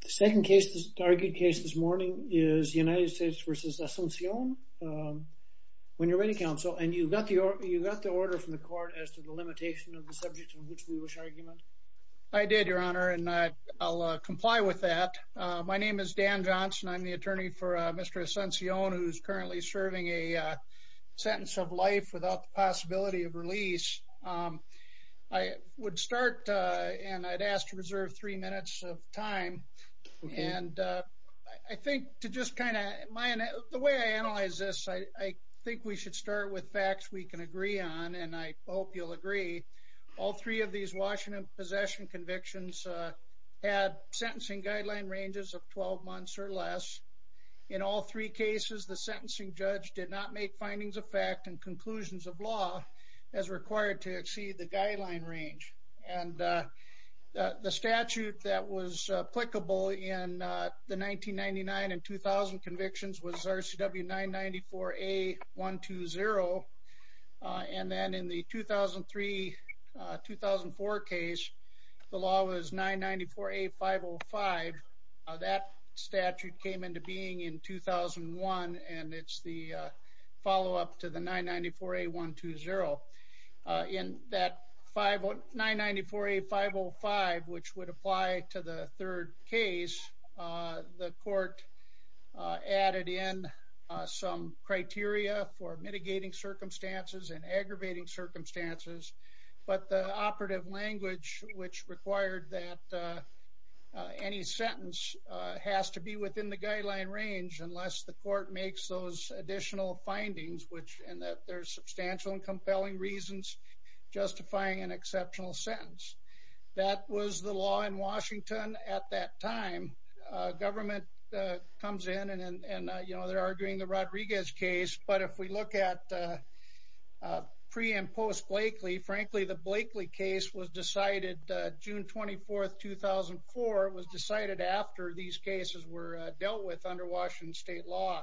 The second case, the argued case this morning, is United States v. Asuncion. When you're ready, counsel, and you got the order from the court as to the limitation of the subject on which we wish argument? I did, your honor, and I'll comply with that. My name is Dan Johnson. I'm the attorney for Mr. Asuncion, who's currently serving a sentence of life without the possibility of release. I would start, and I'd ask to reserve three minutes of time, and I think to just kind of, the way I analyze this, I think we should start with facts we can agree on, and I hope you'll agree. All three of these Washington possession convictions had sentencing guideline ranges of 12 months or less. In all three cases, the sentencing judge did not make findings of fact and conclusions of law as required to exceed the guideline range. And the statute that was applicable in the 1999 and 2000 convictions was RCW 994A120, and then in the 2003-2004 case, the law was 994A505. That statute came into being in 2001, and it's the follow-up to the 994A120. In that 994A505, which would apply to the third case, the court added in some criteria for mitigating circumstances and aggravating circumstances, but the operative language, which required that any sentence has to be within the guideline range unless the court makes those additional findings, which, and that there's substantial and compelling reasons justifying an exceptional sentence. That was the law in Washington at that time. Government comes in, and, you know, they're arguing the Rodriguez case, but if we look at pre- and post-Blakely, frankly, the Blakely case was decided June 24th, 2004. It was decided after these cases were dealt with under Washington state law.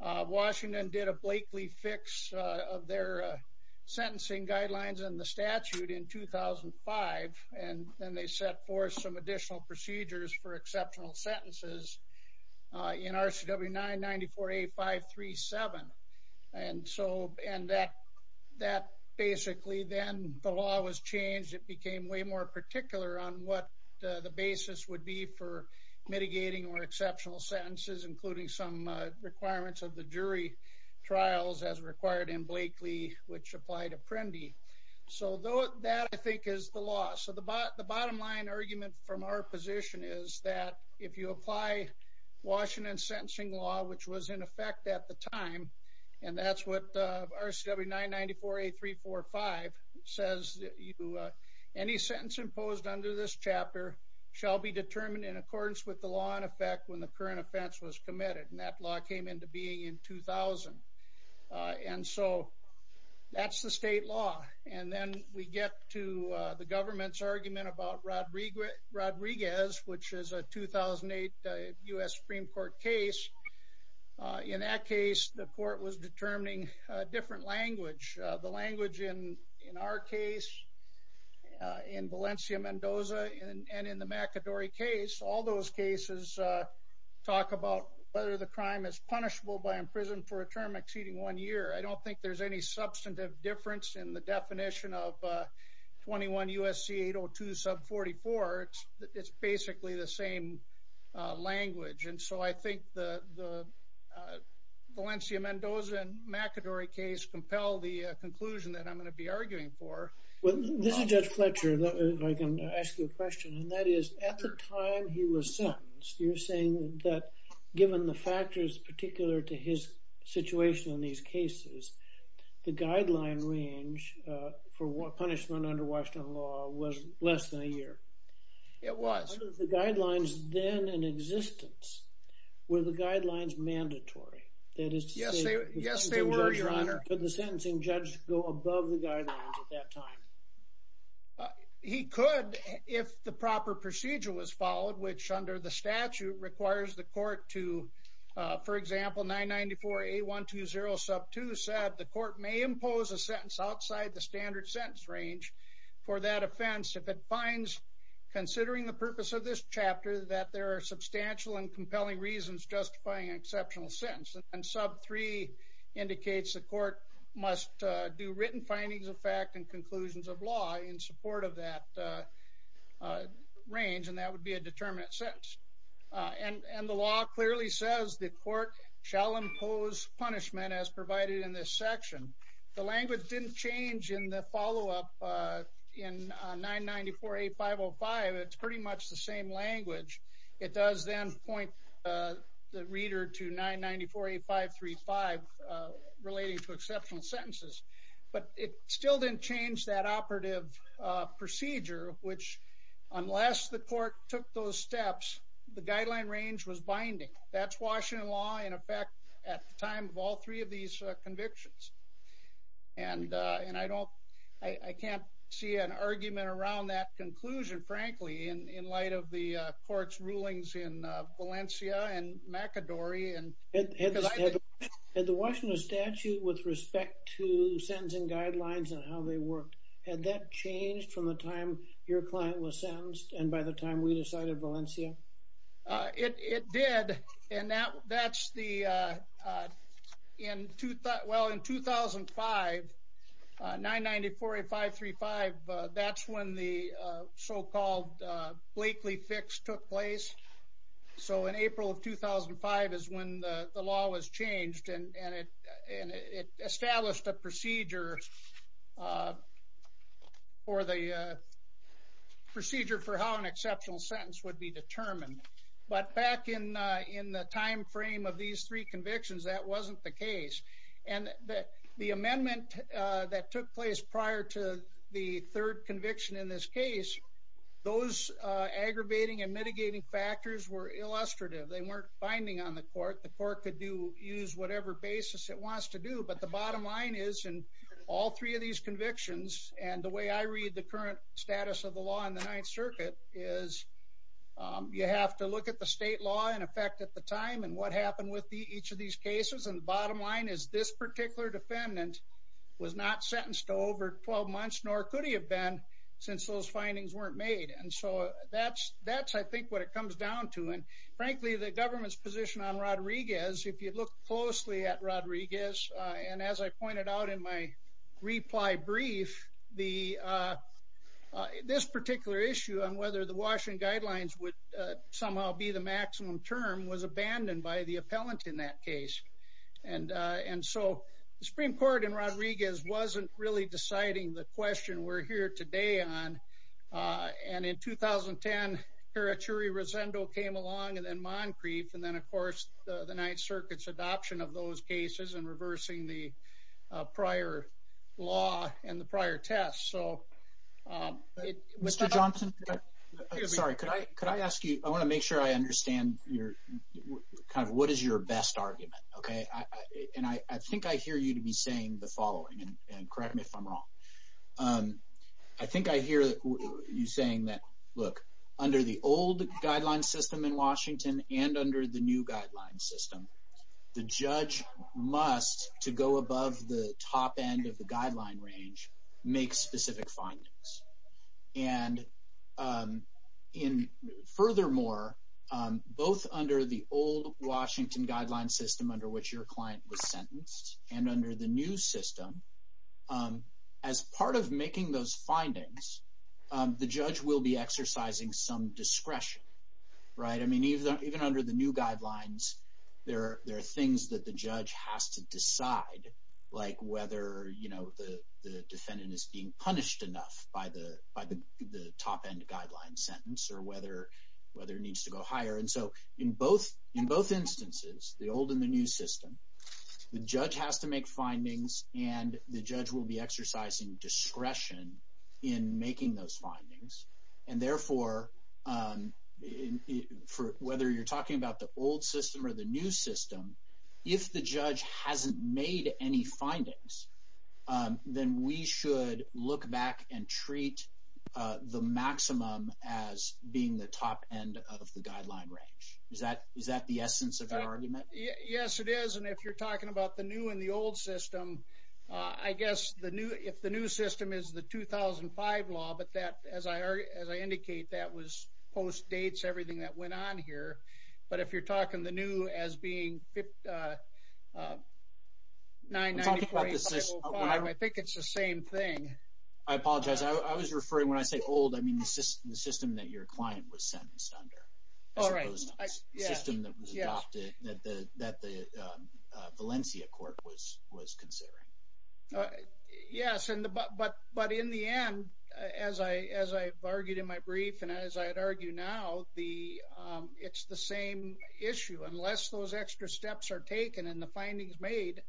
Washington did a Blakely fix of their sentencing guidelines and the statute in 2005, and then they set forth some additional procedures for exceptional change. It became way more particular on what the basis would be for mitigating or exceptional sentences, including some requirements of the jury trials as required in Blakely, which applied Apprendi. So that, I think, is the law. So the bottom line argument from our position is that if you apply Washington sentencing law, which was in effect at the time, any sentence imposed under this chapter shall be determined in accordance with the law in effect when the current offense was committed, and that law came into being in 2000. And so that's the state law. And then we get to the government's argument about Rodriguez, which is a 2008 U.S. Supreme Court case. In that case, the court was determining a different language. The Valencia-Mendoza and in the McAdory case, all those cases talk about whether the crime is punishable by imprisonment for a term exceeding one year. I don't think there's any substantive difference in the definition of 21 U.S.C. 802 sub 44. It's basically the same language. And so I think the Valencia-Mendoza and McAdory case compel the conclusion that I'm going to be arguing for. Well, this is Judge Fletcher, if I can ask you a question, and that is at the time he was sentenced, you're saying that given the factors particular to his situation in these cases, the guideline range for what punishment under Washington law was less than a year. It was the guidelines then in existence, were the guidelines mandatory? That is, yes, yes, they were your sentencing judge go above the guidelines at that time? He could, if the proper procedure was followed, which under the statute requires the court to, for example, 994 A120 sub 2 said the court may impose a sentence outside the standard sentence range for that offense. If it finds, considering the purpose of this chapter, that there are substantial and compelling reasons justifying an exceptional sentence. And sub 3 indicates the court must do written findings of fact and conclusions of law in support of that range, and that would be a determinate sentence. And the law clearly says the court shall impose punishment as provided in this section. The language didn't change in the follow up in 994 A505. It's pretty much the same language. It does then point the reader to 994 A535 relating to exceptional sentences. But it still didn't change that operative procedure, which, unless the court took those steps, the guideline range was binding. That's Washington law in effect, at the time of all three of these convictions. And, and I don't, I can't see an argument around that conclusion, frankly, in light of the court's rulings in Valencia and McAdory. And had the Washington statute with respect to sentencing guidelines and how they worked, had that changed from the time your client was sentenced? And by the time we decided Valencia? It did. And that's the, in 2005, 994 A535, that's when the so called Blakely fix took place. So in April of 2005 is when the law was changed. And it established a procedure for the procedure for how an exceptional sentence would be determined. But back in in the timeframe of these three convictions, that wasn't the case. And the amendment that took place prior to the third conviction in this case, those aggravating and mitigating factors were illustrative, they weren't binding on the court, the court could do use whatever basis it wants to do. But the bottom line is, in all three of these cases, the bottom line of the circuit is, you have to look at the state law in effect at the time and what happened with the each of these cases. And the bottom line is this particular defendant was not sentenced to over 12 months, nor could he have been since those findings weren't made. And so that's, that's, I think, what it comes down to. And frankly, the government's position on Rodriguez, if you look closely at Rodriguez, and as I pointed out in my reply brief, the this particular issue on whether the Washington guidelines would somehow be the maximum term was abandoned by the appellant in that case. And, and so the Supreme Court in Rodriguez wasn't really deciding the question we're here today on. And in 2010, Karachuri-Rosendo came along and then Moncrief. And then of course, the Ninth Circuit's adoption of those cases and reversing the prior law and the prior test. So... Mr. Johnson, sorry, could I could I ask you, I want to make sure I understand your kind of what is your best argument? Okay. And I think I hear you to be saying the following and correct me if I'm wrong. I think I hear you saying that, look, under the old guideline system in Washington, and under the new guideline system, the judge must, to go above the top end of the guideline range, make specific findings. And in furthermore, both under the old Washington guideline system under which your client was sentenced, and as part of making those findings, the judge will be exercising some discretion, right? I mean, even, even under the new guidelines, there are there are things that the judge has to decide, like whether you know, the defendant is being punished enough by the by the top end guideline sentence or whether whether it needs to go higher. And so in both, in both instances, the old and the new system, the judge has to make findings and the judge will be exercising discretion in making those findings. And therefore, for whether you're talking about the old system or the new system, if the judge hasn't made any findings, then we should look back and treat the maximum as being the top end of the guideline range. Is that is that the essence of your old system? I guess the new if the new system is the 2005 law, but that as I as I indicate, that was post dates, everything that went on here. But if you're talking the new as being 59, I think it's the same thing. I apologize. I was referring when I say old, I mean, the system, the system that your client was sentenced All right, yeah, yeah, that the Valencia court was was considering. Yes. And but but but in the end, as I as I argued in my brief, and as I'd argue now, the it's the same issue unless those extra steps are taken and the findings made,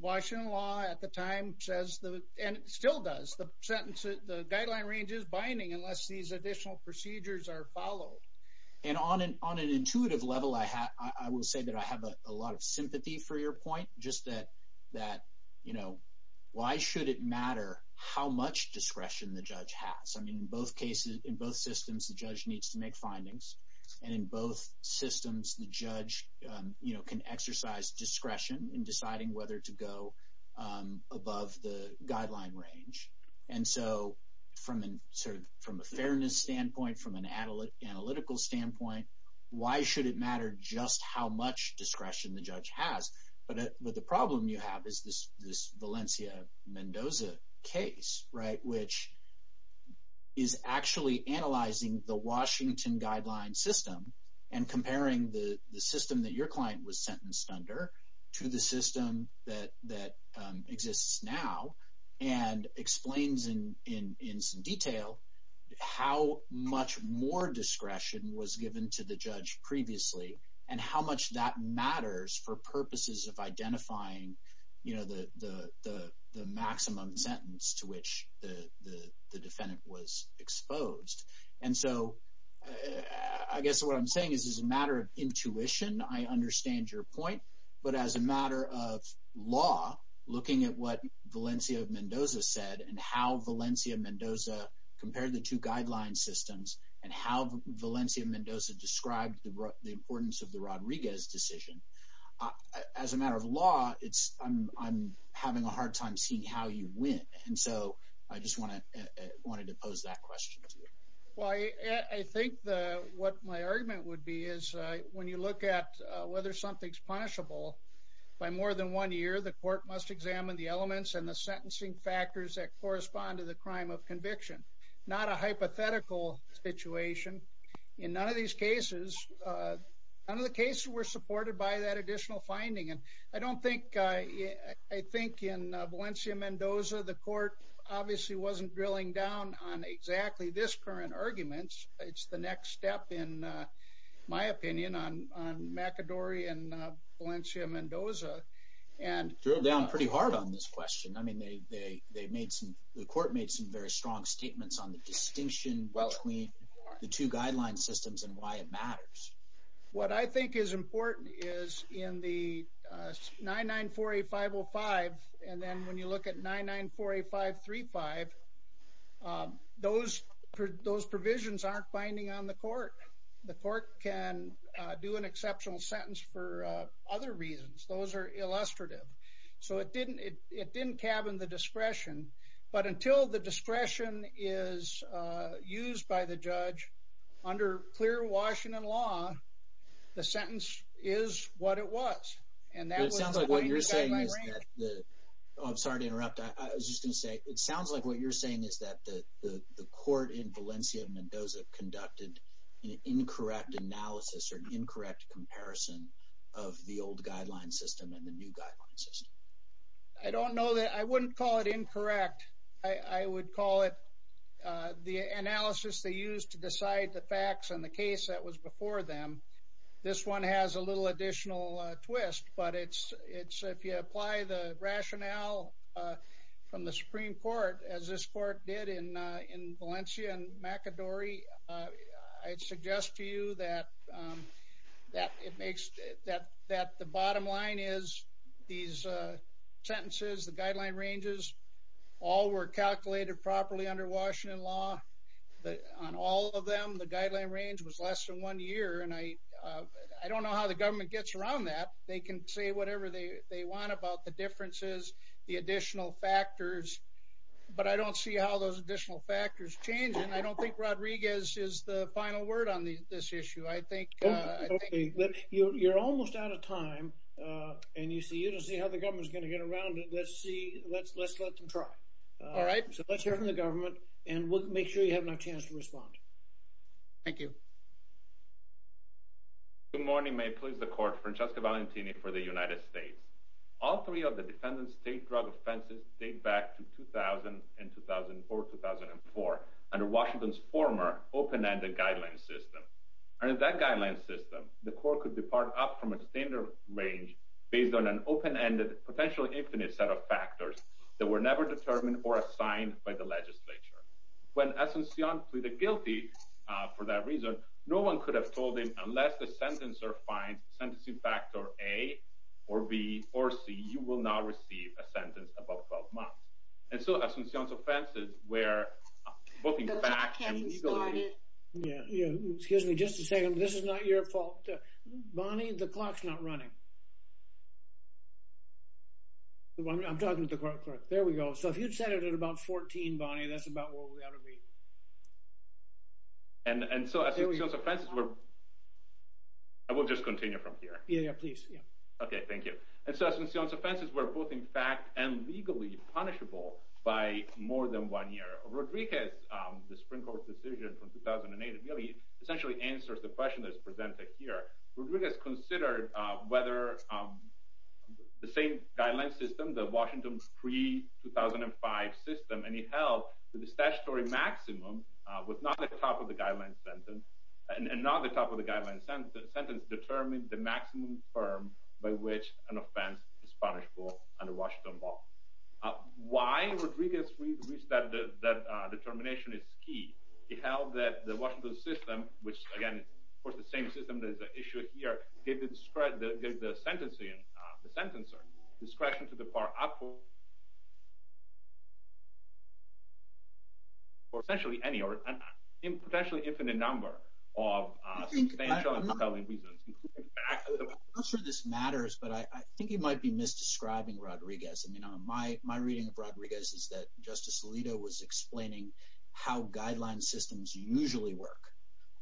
Washington law at the time says the and still does the sentence, the guideline range is binding unless these additional procedures are followed. And on an on an intuitive level, I have, I will say that I have a lot of sympathy for your point, just that, that, you know, why should it matter how much discretion the judge has? I mean, in both cases, in both systems, the judge needs to make findings. And in both systems, the judge, you know, can exercise discretion in deciding whether to go above the guideline range. And so from an sort of from a fairness standpoint, from an analyst analytical standpoint, why should it matter just how much discretion the judge has? But the problem you have is this, this Valencia Mendoza case, right, which is actually analyzing the Washington guideline system, and comparing the system that your client was and explains in in some detail, how much more discretion was given to the judge previously, and how much that matters for purposes of identifying, you know, the the maximum sentence to which the defendant was exposed. And so I guess what I'm saying is, is a matter of intuition, I understand your point. But as a matter of law, looking at what Valencia Mendoza said, and how Valencia Mendoza compared the two guideline systems, and how Valencia Mendoza described the importance of the Rodriguez decision, as a matter of law, it's I'm having a hard time seeing how you win. And so I just want to wanted to pose that question. Well, I think the what my argument would be is, when you look at whether something's punishable, by more than one year, the court must examine the elements and the sentencing factors that correspond to the crime of conviction, not a hypothetical situation. In none of these cases, none of the cases were supported by that additional finding. And I don't think I think in Valencia Mendoza, the court obviously wasn't drilling down on exactly this current arguments. It's the drill down pretty hard on this question. I mean, they they made some, the court made some very strong statements on the distinction between the two guideline systems and why it matters. What I think is important is in the 9948505. And then when you look at 9948535, those, those provisions aren't binding on the So it didn't, it didn't cabin the discretion. But until the discretion is used by the judge, under clear Washington law, the sentence is what it was. And that sounds like what you're saying is that the I'm sorry to interrupt. I was just gonna say it sounds like what you're saying is that the the court in Valencia Mendoza conducted an incorrect analysis or incorrect comparison of the old guideline system and the new guideline system. I don't know that I wouldn't call it incorrect. I would call it the analysis they used to decide the facts on the case that was before them. This one has a little additional twist. But it's it's if you apply the rationale from the Supreme Court, as this court did in in Valencia and McAdory, I'd suggest to you that that it makes that that the bottom line is these sentences, the guideline ranges, all were calculated properly under Washington law. But on all of them, the guideline range was less than one year. And I, I don't know how the government gets around that they can say whatever they want about the differences, the additional factors. But I don't see how those additional factors change. And I don't think Rodriguez is the final word on this issue. I think you're almost out of time. And you see you don't see how the government is going to get around it. Let's see. Let's let's let them try. All right. So let's hear from the government. And we'll make sure you have no chance to respond. Thank you. Good morning, may please the court Francesca Valentini for the United States. All three of the defendant state drug offenses date back to 2000 and 2004 2004 under Washington's former open ended guideline system. And in that guideline system, the court could depart up from a standard range based on an open ended potentially infinite set of factors that were never determined or assigned by the legislature. When essentially the guilty for that reason, no one could have told him unless the sentence or find sentencing factor A, or B or C, you will not see a sentence above 12 months. And so as soon as offensive where Yeah, excuse me, just a second. This is not your fault. Bonnie, the clock's not running. The one I'm talking to the court. There we go. So if you'd set it at about 14, Bonnie, that's about what we ought to be. And so as soon as offensive, we're I will just continue from here. Yeah, please. Yeah. Okay, thank you. And so as soon as offenses were both in fact and legally punishable by more than one year of Rodriguez, the Supreme Court decision from 2008 really essentially answers the question that's presented here. We're doing is considered whether the same guideline system, the Washington pre 2005 system and he held that the statutory maximum was not the top of the guideline sentence and not the top of the guideline sentence sentence determined the maximum firm by which an offense is punishable under Washington law. Why Rodriguez reached that that determination is key. He held that the Washington system, which again, of course, the same system that is the issue here, David spread the sentence in the sentence or discretion to the part up for For essentially any or in potentially infinite number of explaining how guideline systems usually work.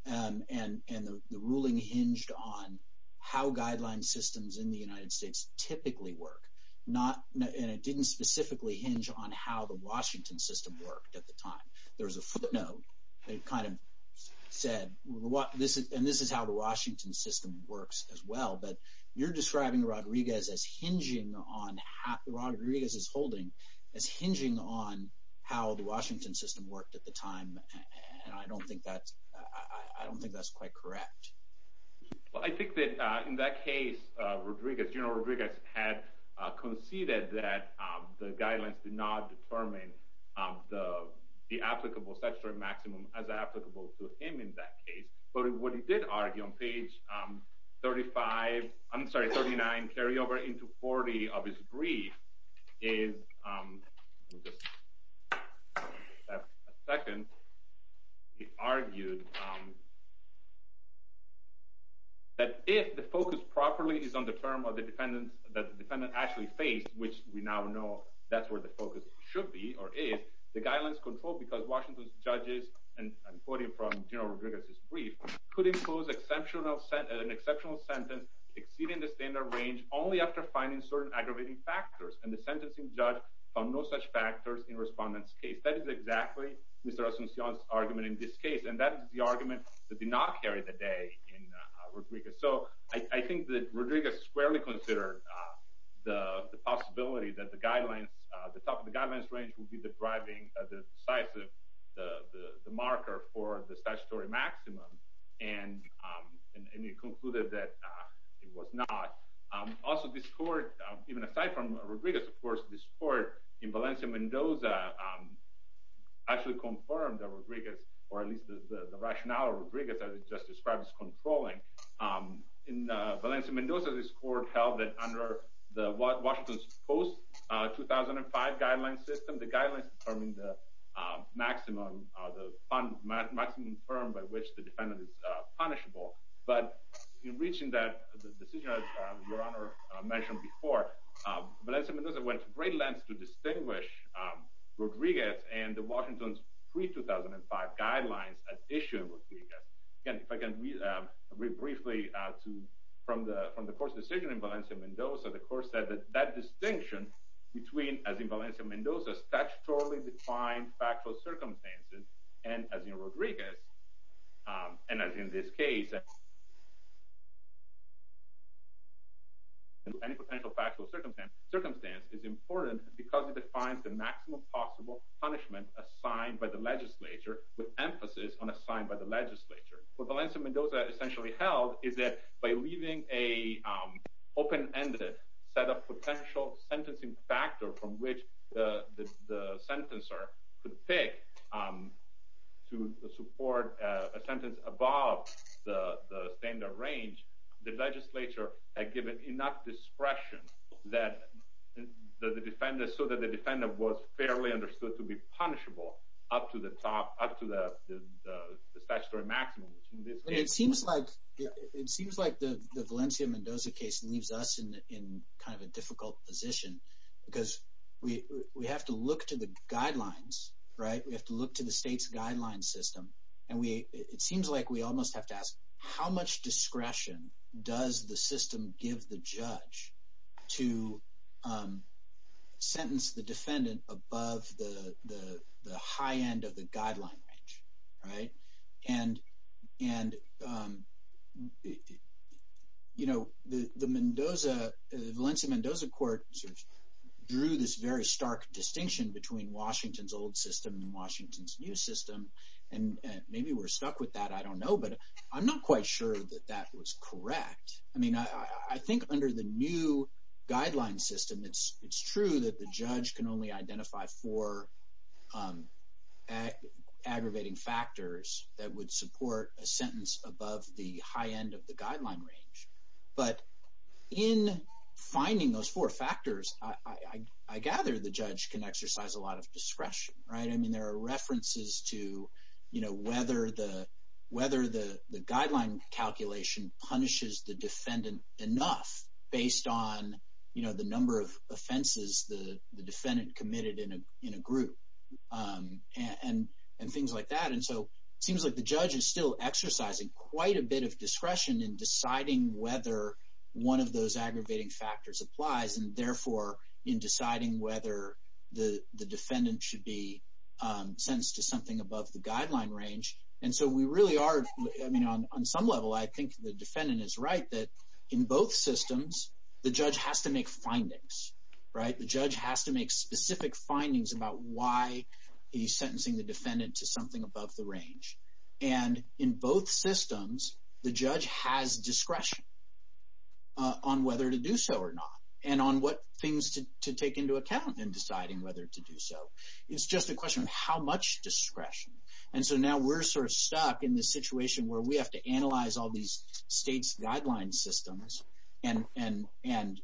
And, and, and the ruling hinged on how guideline systems in the United States typically work, not and it didn't specifically hinge on how the Washington system worked at the time, there was a footnote, they kind of said what this is, and this is how the Washington system works as well. But you're describing Rodriguez as hinging on Rodriguez is holding as hinging on how the Washington system worked at the time. And I don't think that's, I don't think that's quite correct. Well, I think that in that case, Rodriguez, you know, Rodriguez had conceded that the guidelines did not determine the applicable statutory maximum as applicable to him in that 35 I'm sorry 39 carry over into 40 of his brief is Second, He argued That if the focus properly is on the term of the defendant that the defendant actually faced, which we now know that's where the focus should be, or is the guidelines control because Washington's judges and Quoting from General Rodriguez's brief could impose exceptional set an exceptional sentence exceeding the standard range only after finding certain aggravating factors and the sentencing judge From no such factors in respondents case that is exactly Mr. Asuncion's argument in this case. And that is the argument that did not carry the day in I think that Rodriguez squarely consider the possibility that the guidelines, the top of the guidance range will be the driving the size of the the marker for the statutory maximum and And he concluded that it was not also this court, even aside from Rodriguez, of course, this court in Valencia Mendoza. Actually confirmed that Rodriguez, or at least the rationale of Rodriguez, as it just described as controlling In Valencia Mendoza, this court held that under the Washington's post 2005 guideline system, the guidelines determine the maximum of the maximum firm by which the defendant is punishable, but in reaching that decision, as your honor mentioned before Valencia Mendoza went to great lengths to distinguish Rodriguez and the Washington's pre 2005 guidelines as issued with Again, if I can read briefly to from the from the court's decision in Valencia Mendoza, the court said that that distinction between, as in Valencia Mendoza, statutorily defined factual circumstances and as in Rodriguez And as in this case. Any potential factual circumstance circumstance is important because it defines the maximum possible punishment assigned by the legislature with emphasis on assigned by the legislature for Valencia Mendoza essentially held is that by leaving a Open ended set of potential sentencing factor from which the the sentence or could pick Um, to support a sentence above the standard range, the legislature had given enough discretion that the defendants so that the defendant was fairly understood to be punishable up to the top up to the statutory maximum It seems like it seems like the Valencia Mendoza case leaves us in in kind of a difficult position because we we have to look to the guidelines, right, we have to look to the state's guideline system and we it seems like we almost have to ask how much discretion does the system gives the judge to Sentence the defendant above the high end of the guideline range. Right. And, and You know, the Mendoza Valencia Mendoza court drew this very stark distinction between Washington's old system and Washington's new system. And maybe we're stuck with that. I don't know. But I'm not quite sure that that was correct. I mean, I think under the new guideline system. It's, it's true that the judge can only identify for Aggravating factors that would support a sentence above the high end of the guideline range, but in finding those four factors. I gather the judge can exercise a lot of discretion. Right. I mean, there are references to, you know, whether the Guideline calculation punishes the defendant enough based on, you know, the number of offenses. The defendant committed in a in a group. And and things like that. And so it seems like the judge is still exercising quite a bit of discretion in deciding whether one of those aggravating factors applies and therefore in deciding whether the defendant should be Sentenced to something above the guideline range. And so we really are. I mean, on some level, I think the defendant is right that in both systems, the judge has to make findings. Right. The judge has to make specific findings about why he sentencing the defendant to something above the range and in both systems, the judge has discretion. On whether to do so or not, and on what things to take into account and deciding whether to do so. It's just a question of how much discretion. And so now we're sort of stuck in this situation where we have to analyze all these states guideline systems and and and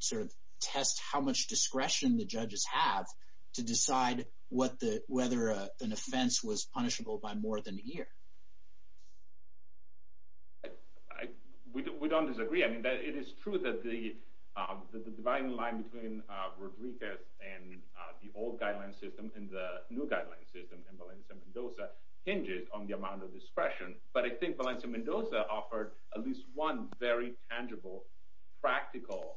sort of test how much discretion, the judges have to decide what the whether an offense was punishable by more than a year. We don't disagree. I mean, that it is true that the dividing line between Rodriguez and the old guideline system in the new guideline system and Valencia Mendoza hinges on the amount of discretion, but I think Valencia Mendoza offered at least one very tangible practical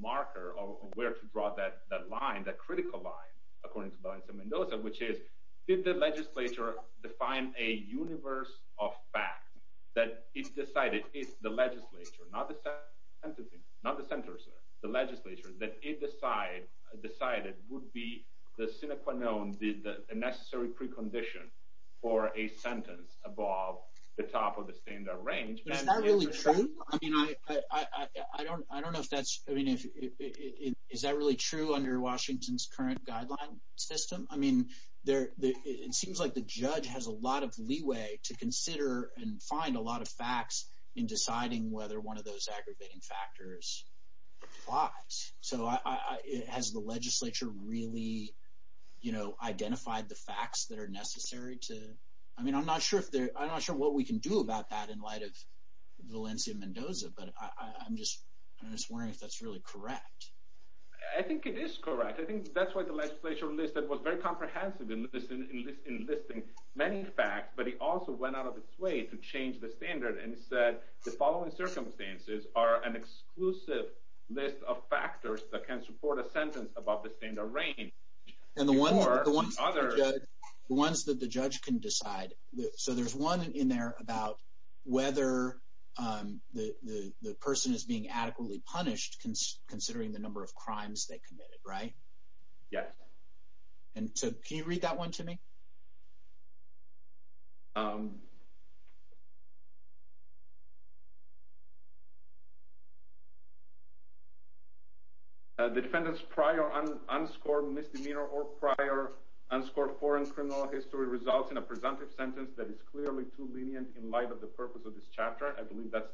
Marker of where to draw that that line that critical line, according to Valencia Mendoza, which is, did the legislature define a universe of fact that it decided it's the legislature, not the Not the centers, the legislature that it decide decided would be the sine qua non did the necessary precondition for a sentence above the top of the standard range. Is that really true. I mean, I don't, I don't know if that's, I mean, if it is that really true under Washington's current guideline system. I mean, there, it seems like the judge has a lot of leeway to consider and find a lot of facts in deciding whether one of those aggravating factors. So I it has the legislature really, you know, identified the facts that are necessary to, I mean, I'm not sure if they're not sure what we can do about that in light of Valencia Mendoza, but I'm just, I'm just wondering if that's really correct. I think it is correct. I think that's why the legislature list that was very comprehensive in this in this in this thing, many facts, but he also went out of its way to change the standard and said the following circumstances are an exclusive list of factors that can support a sentence about the standard range and the one other ones that the judge can decide. Right. So there's one in there about whether the person is being adequately punished considering the number of crimes they committed. Right. Yes. And so can you read that one to me. The defendant's prior unscored misdemeanor or prior unscored foreign criminal history results in a presumptive sentence that is clearly too lenient in light of the purpose of this chapter. I believe that's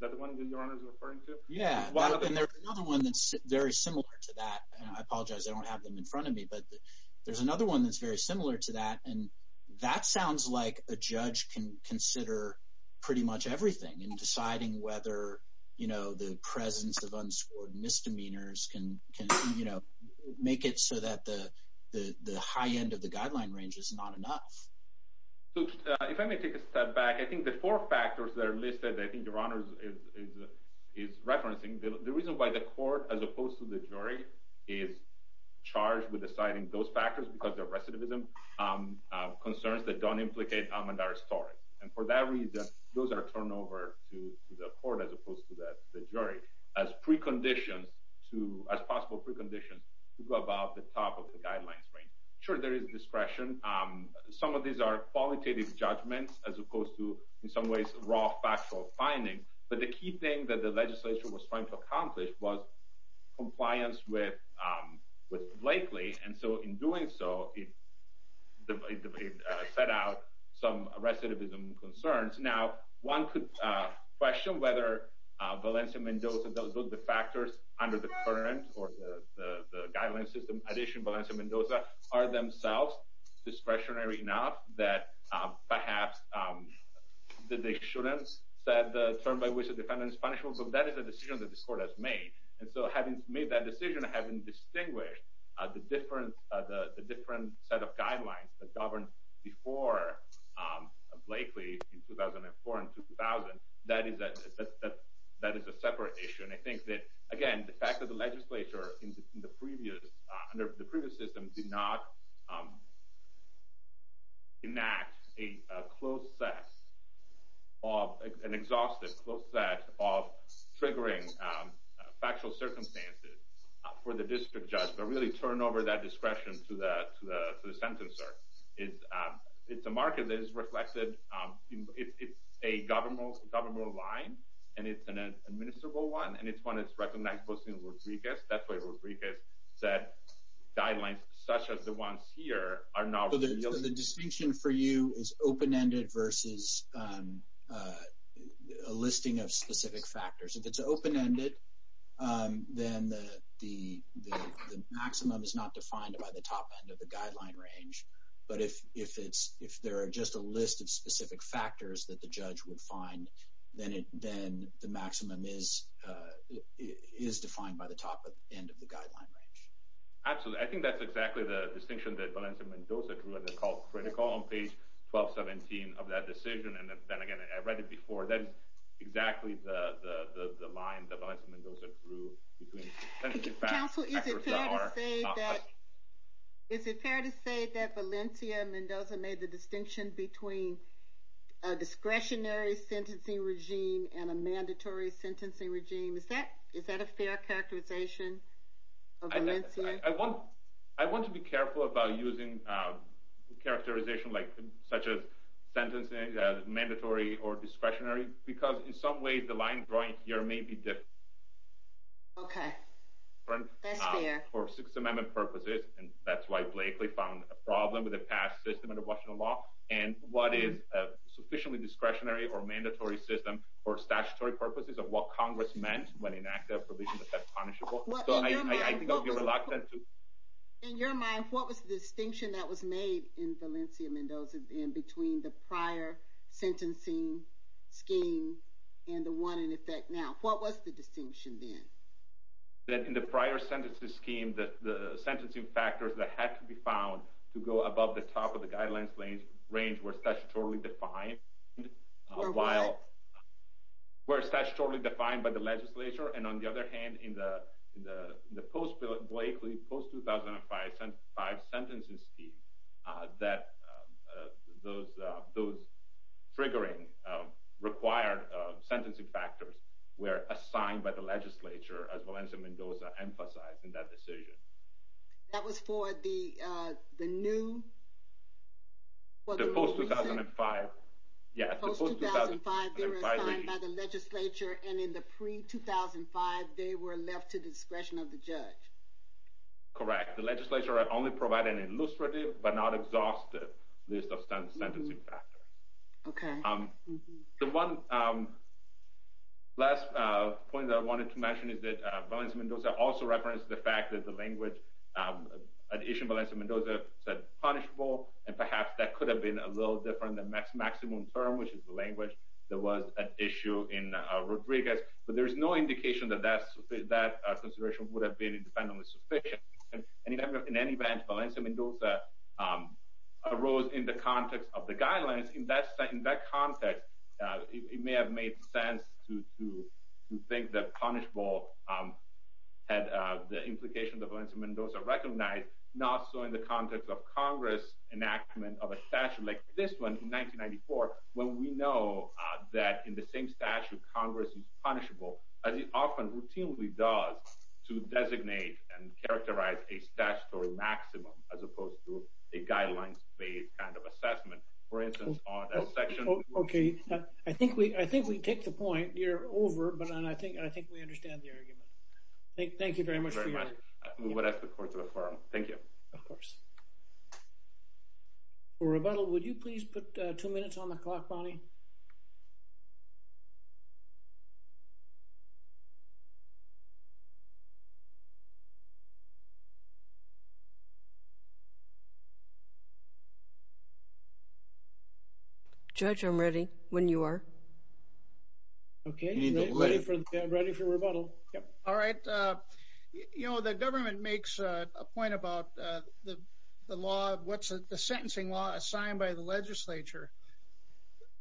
the one that you're referring to. Yeah. And there's another one that's very similar to that. And I apologize. I don't have them in front of me, but there's another one that's very similar to that. And that sounds like a judge can consider pretty much everything in deciding whether, you know, the presence of unscored misdemeanors can, you know, make it so that the high end of the guideline range is not enough. So if I may take a step back, I think the four factors that are listed, I think your honors is referencing the reason why the court, as opposed to the jury, is charged with deciding those factors because the recidivism concerns that don't implicate Amandara's story. And for that reason, those are turned over to the court as opposed to the jury as preconditions to as possible preconditions to go above the top of the guidelines range. Sure, there is discretion. Some of these are qualitative judgments as opposed to, in some ways, raw factual findings. But the key thing that the legislature was trying to accomplish was compliance with Blakely. And so in doing so, it set out some recidivism concerns. Now, one could question whether Valencia Mendoza, those are the factors under the current or the guideline system addition, Valencia Mendoza, are themselves discretionary enough that perhaps they shouldn't set the term by which a defendant is punishable, but that is a decision that this court has made. And so having made that decision, having distinguished the different set of guidelines that governed before Blakely in 2004 and 2000, that is a separate issue. And I think that, again, the fact that the legislature under the previous system did not enact an exhaustive close set of triggering factual circumstances for the district judge, but really turn over that discretion to the sentencer. It's a market that is reflected. It's a governmental line, and it's an administrable one, and it's one that's recognized both in Rodriguez. That's why Rodriguez said guidelines such as the ones here are now... So the distinction for you is open-ended versus a listing of specific factors. If it's open-ended, then the maximum is not defined by the top end of the guideline range. But if there are just a list of specific factors that the judge would find, then the maximum is defined by the top end of the guideline range. Absolutely. I think that's exactly the distinction that Valencia Mendoza drew, and it's called critical on page 1217 of that decision. And then again, I read it before. That's exactly the line that Valencia Mendoza drew between... Counsel, is it fair to say that Valencia Mendoza made the distinction between a discretionary sentencing regime and a mandatory sentencing regime? Is that a fair characterization of Valencia? I want to be careful about using characterization such as sentencing as mandatory or discretionary, because in some ways the line drawing here may be different for Sixth Amendment purposes, and that's why Blakely found a problem with the past system under Washington law, and what is a sufficiently discretionary or mandatory system for statutory purposes of what Congress meant when it enacted a provision that said punishable. In your mind, what was the distinction that was made in Valencia Mendoza in between the prior sentencing scheme and the one in effect now? What was the distinction then? In the prior sentencing scheme, the sentencing factors that had to be found to go above the top of the guidelines range were statutorily defined by the legislature, and on the other hand, in the post-Blakely, post-2005 sentencing scheme, that those triggering required sentencing factors were assigned by the legislature, as Valencia Mendoza emphasized in that decision. That was for the new... The post-2005... Post-2005, they were assigned by the legislature, and in the pre-2005, they were left to discretion of the judge. Correct. The legislature only provided an illustrative but not exhaustive list of sentencing factors. Okay. The one last point that I wanted to mention is that Valencia Mendoza also referenced the fact that the language... An issue in Valencia Mendoza said punishable, and perhaps that could have been a little different. The maximum term, which is the language, there was an issue in Rodriguez, but there is no indication that that consideration would have been independently sufficient. In any event, Valencia Mendoza arose in the context of the guidelines. In that context, it may have made sense to think that punishable had the implication that Valencia Mendoza recognized, not so in the context of Congress enactment of a statute like this one in 1994, when we know that in the same statute, Congress is punishable, as it often routinely does to designate and characterize a statutory maximum, as opposed to a guidelines-based kind of assessment. For instance, on that section... Okay. I think we take the point. You're over, but I think we understand the argument. Thank you very much for your... Thank you very much. We would ask the court to affirm. Thank you. Of course. For rebuttal, would you please put two minutes on the clock, Bonnie? Judge, I'm ready when you are. Okay. Ready for rebuttal. All right. You know, the government makes a point about the law, what's the sentencing law assigned by the legislature.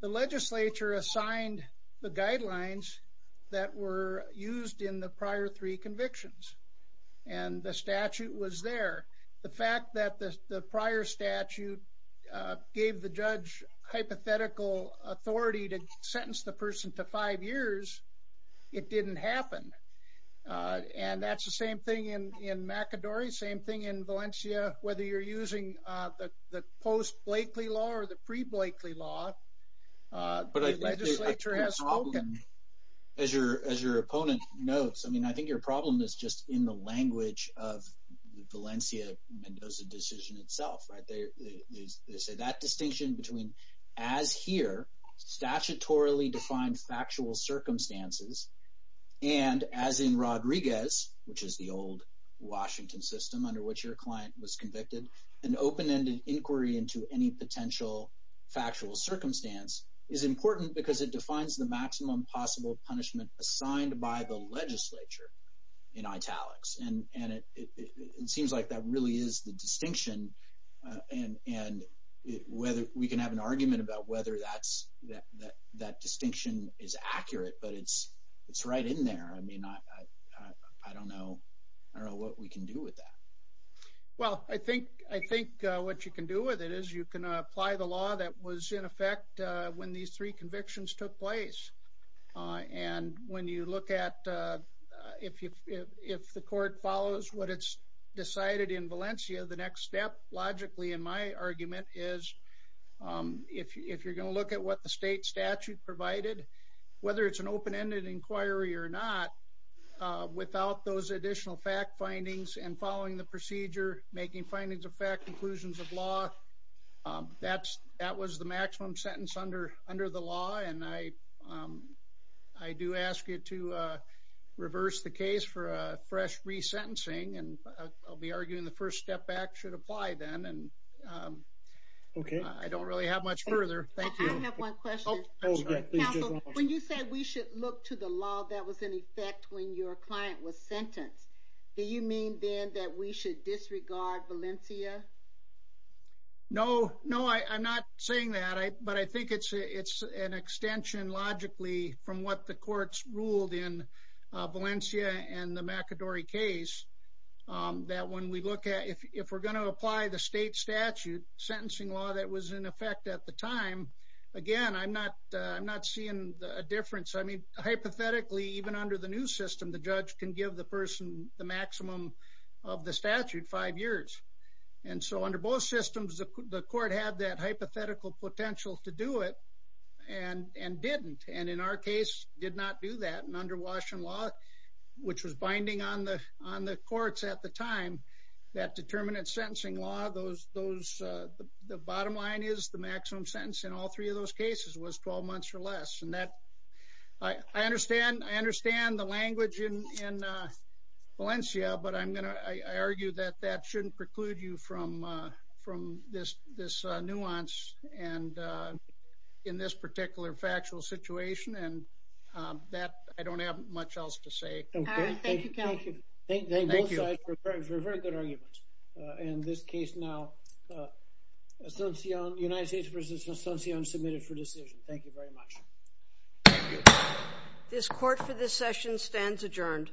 The legislature assigned the guidelines that were used in the prior three convictions. And the statute was there. The fact that the prior statute gave the judge hypothetical authority to sentence the person to five years, it didn't happen. And that's the same thing in McAdory, same thing in Valencia. Whether you're using the post-Blakely law or the pre-Blakely law, the legislature has spoken. As your opponent notes, I mean, I think your problem is just in the language of the Valencia-Mendoza decision itself, right? They say that distinction between, as here, statutorily defined factual circumstances, and as in Rodriguez, which is the old Washington system under which your client was convicted, an open-ended inquiry into any potential factual circumstance is important because it defines the maximum possible punishment assigned by the legislature in italics. And it seems like that really is the distinction. And we can have an argument about whether that distinction is accurate, but it's right in there. I mean, I don't know what we can do with that. Well, I think what you can do with it is you can apply the law that was in effect when these three convictions took place. And when you look at if the court follows what it's decided in Valencia, the next step, logically, in my argument, is if you're going to look at what the state statute provided, whether it's an open-ended inquiry or not, without those additional fact findings and following the procedure, making findings of fact, conclusions of law, that was the maximum sentence under the law. And I do ask you to reverse the case for a fresh resentencing. And I'll be arguing the first step back should apply then. And I don't really have much further. Thank you. I have one question. When you said we should look to the law that was in effect when your client was sentenced, do you mean then that we should disregard Valencia? No. No, I'm not saying that. But I think it's an extension, logically, from what the courts ruled in Valencia and the McAdory case, that when we look at if we're going to apply the state statute sentencing law that was in effect at the time, again, I'm not seeing a difference. I mean, hypothetically, even under the new system, the judge can give the person the maximum of the statute, five years. And so under both systems, the court had that hypothetical potential to do it and didn't. And in our case, did not do that. And under Washington law, which was binding on the courts at the time, that determinant sentencing law, the bottom line is the maximum sentence in all three of those cases was 12 months or less. And I understand the language in Valencia, but I argue that that shouldn't preclude you from this nuance and in this particular factual situation. And that, I don't have much else to say. All right. Thank you, counsel. Thank you. Thank you both sides for very good arguments. And this case now, United States v. Asuncion submitted for decision. Thank you very much. Thank you. This court for this session stands adjourned.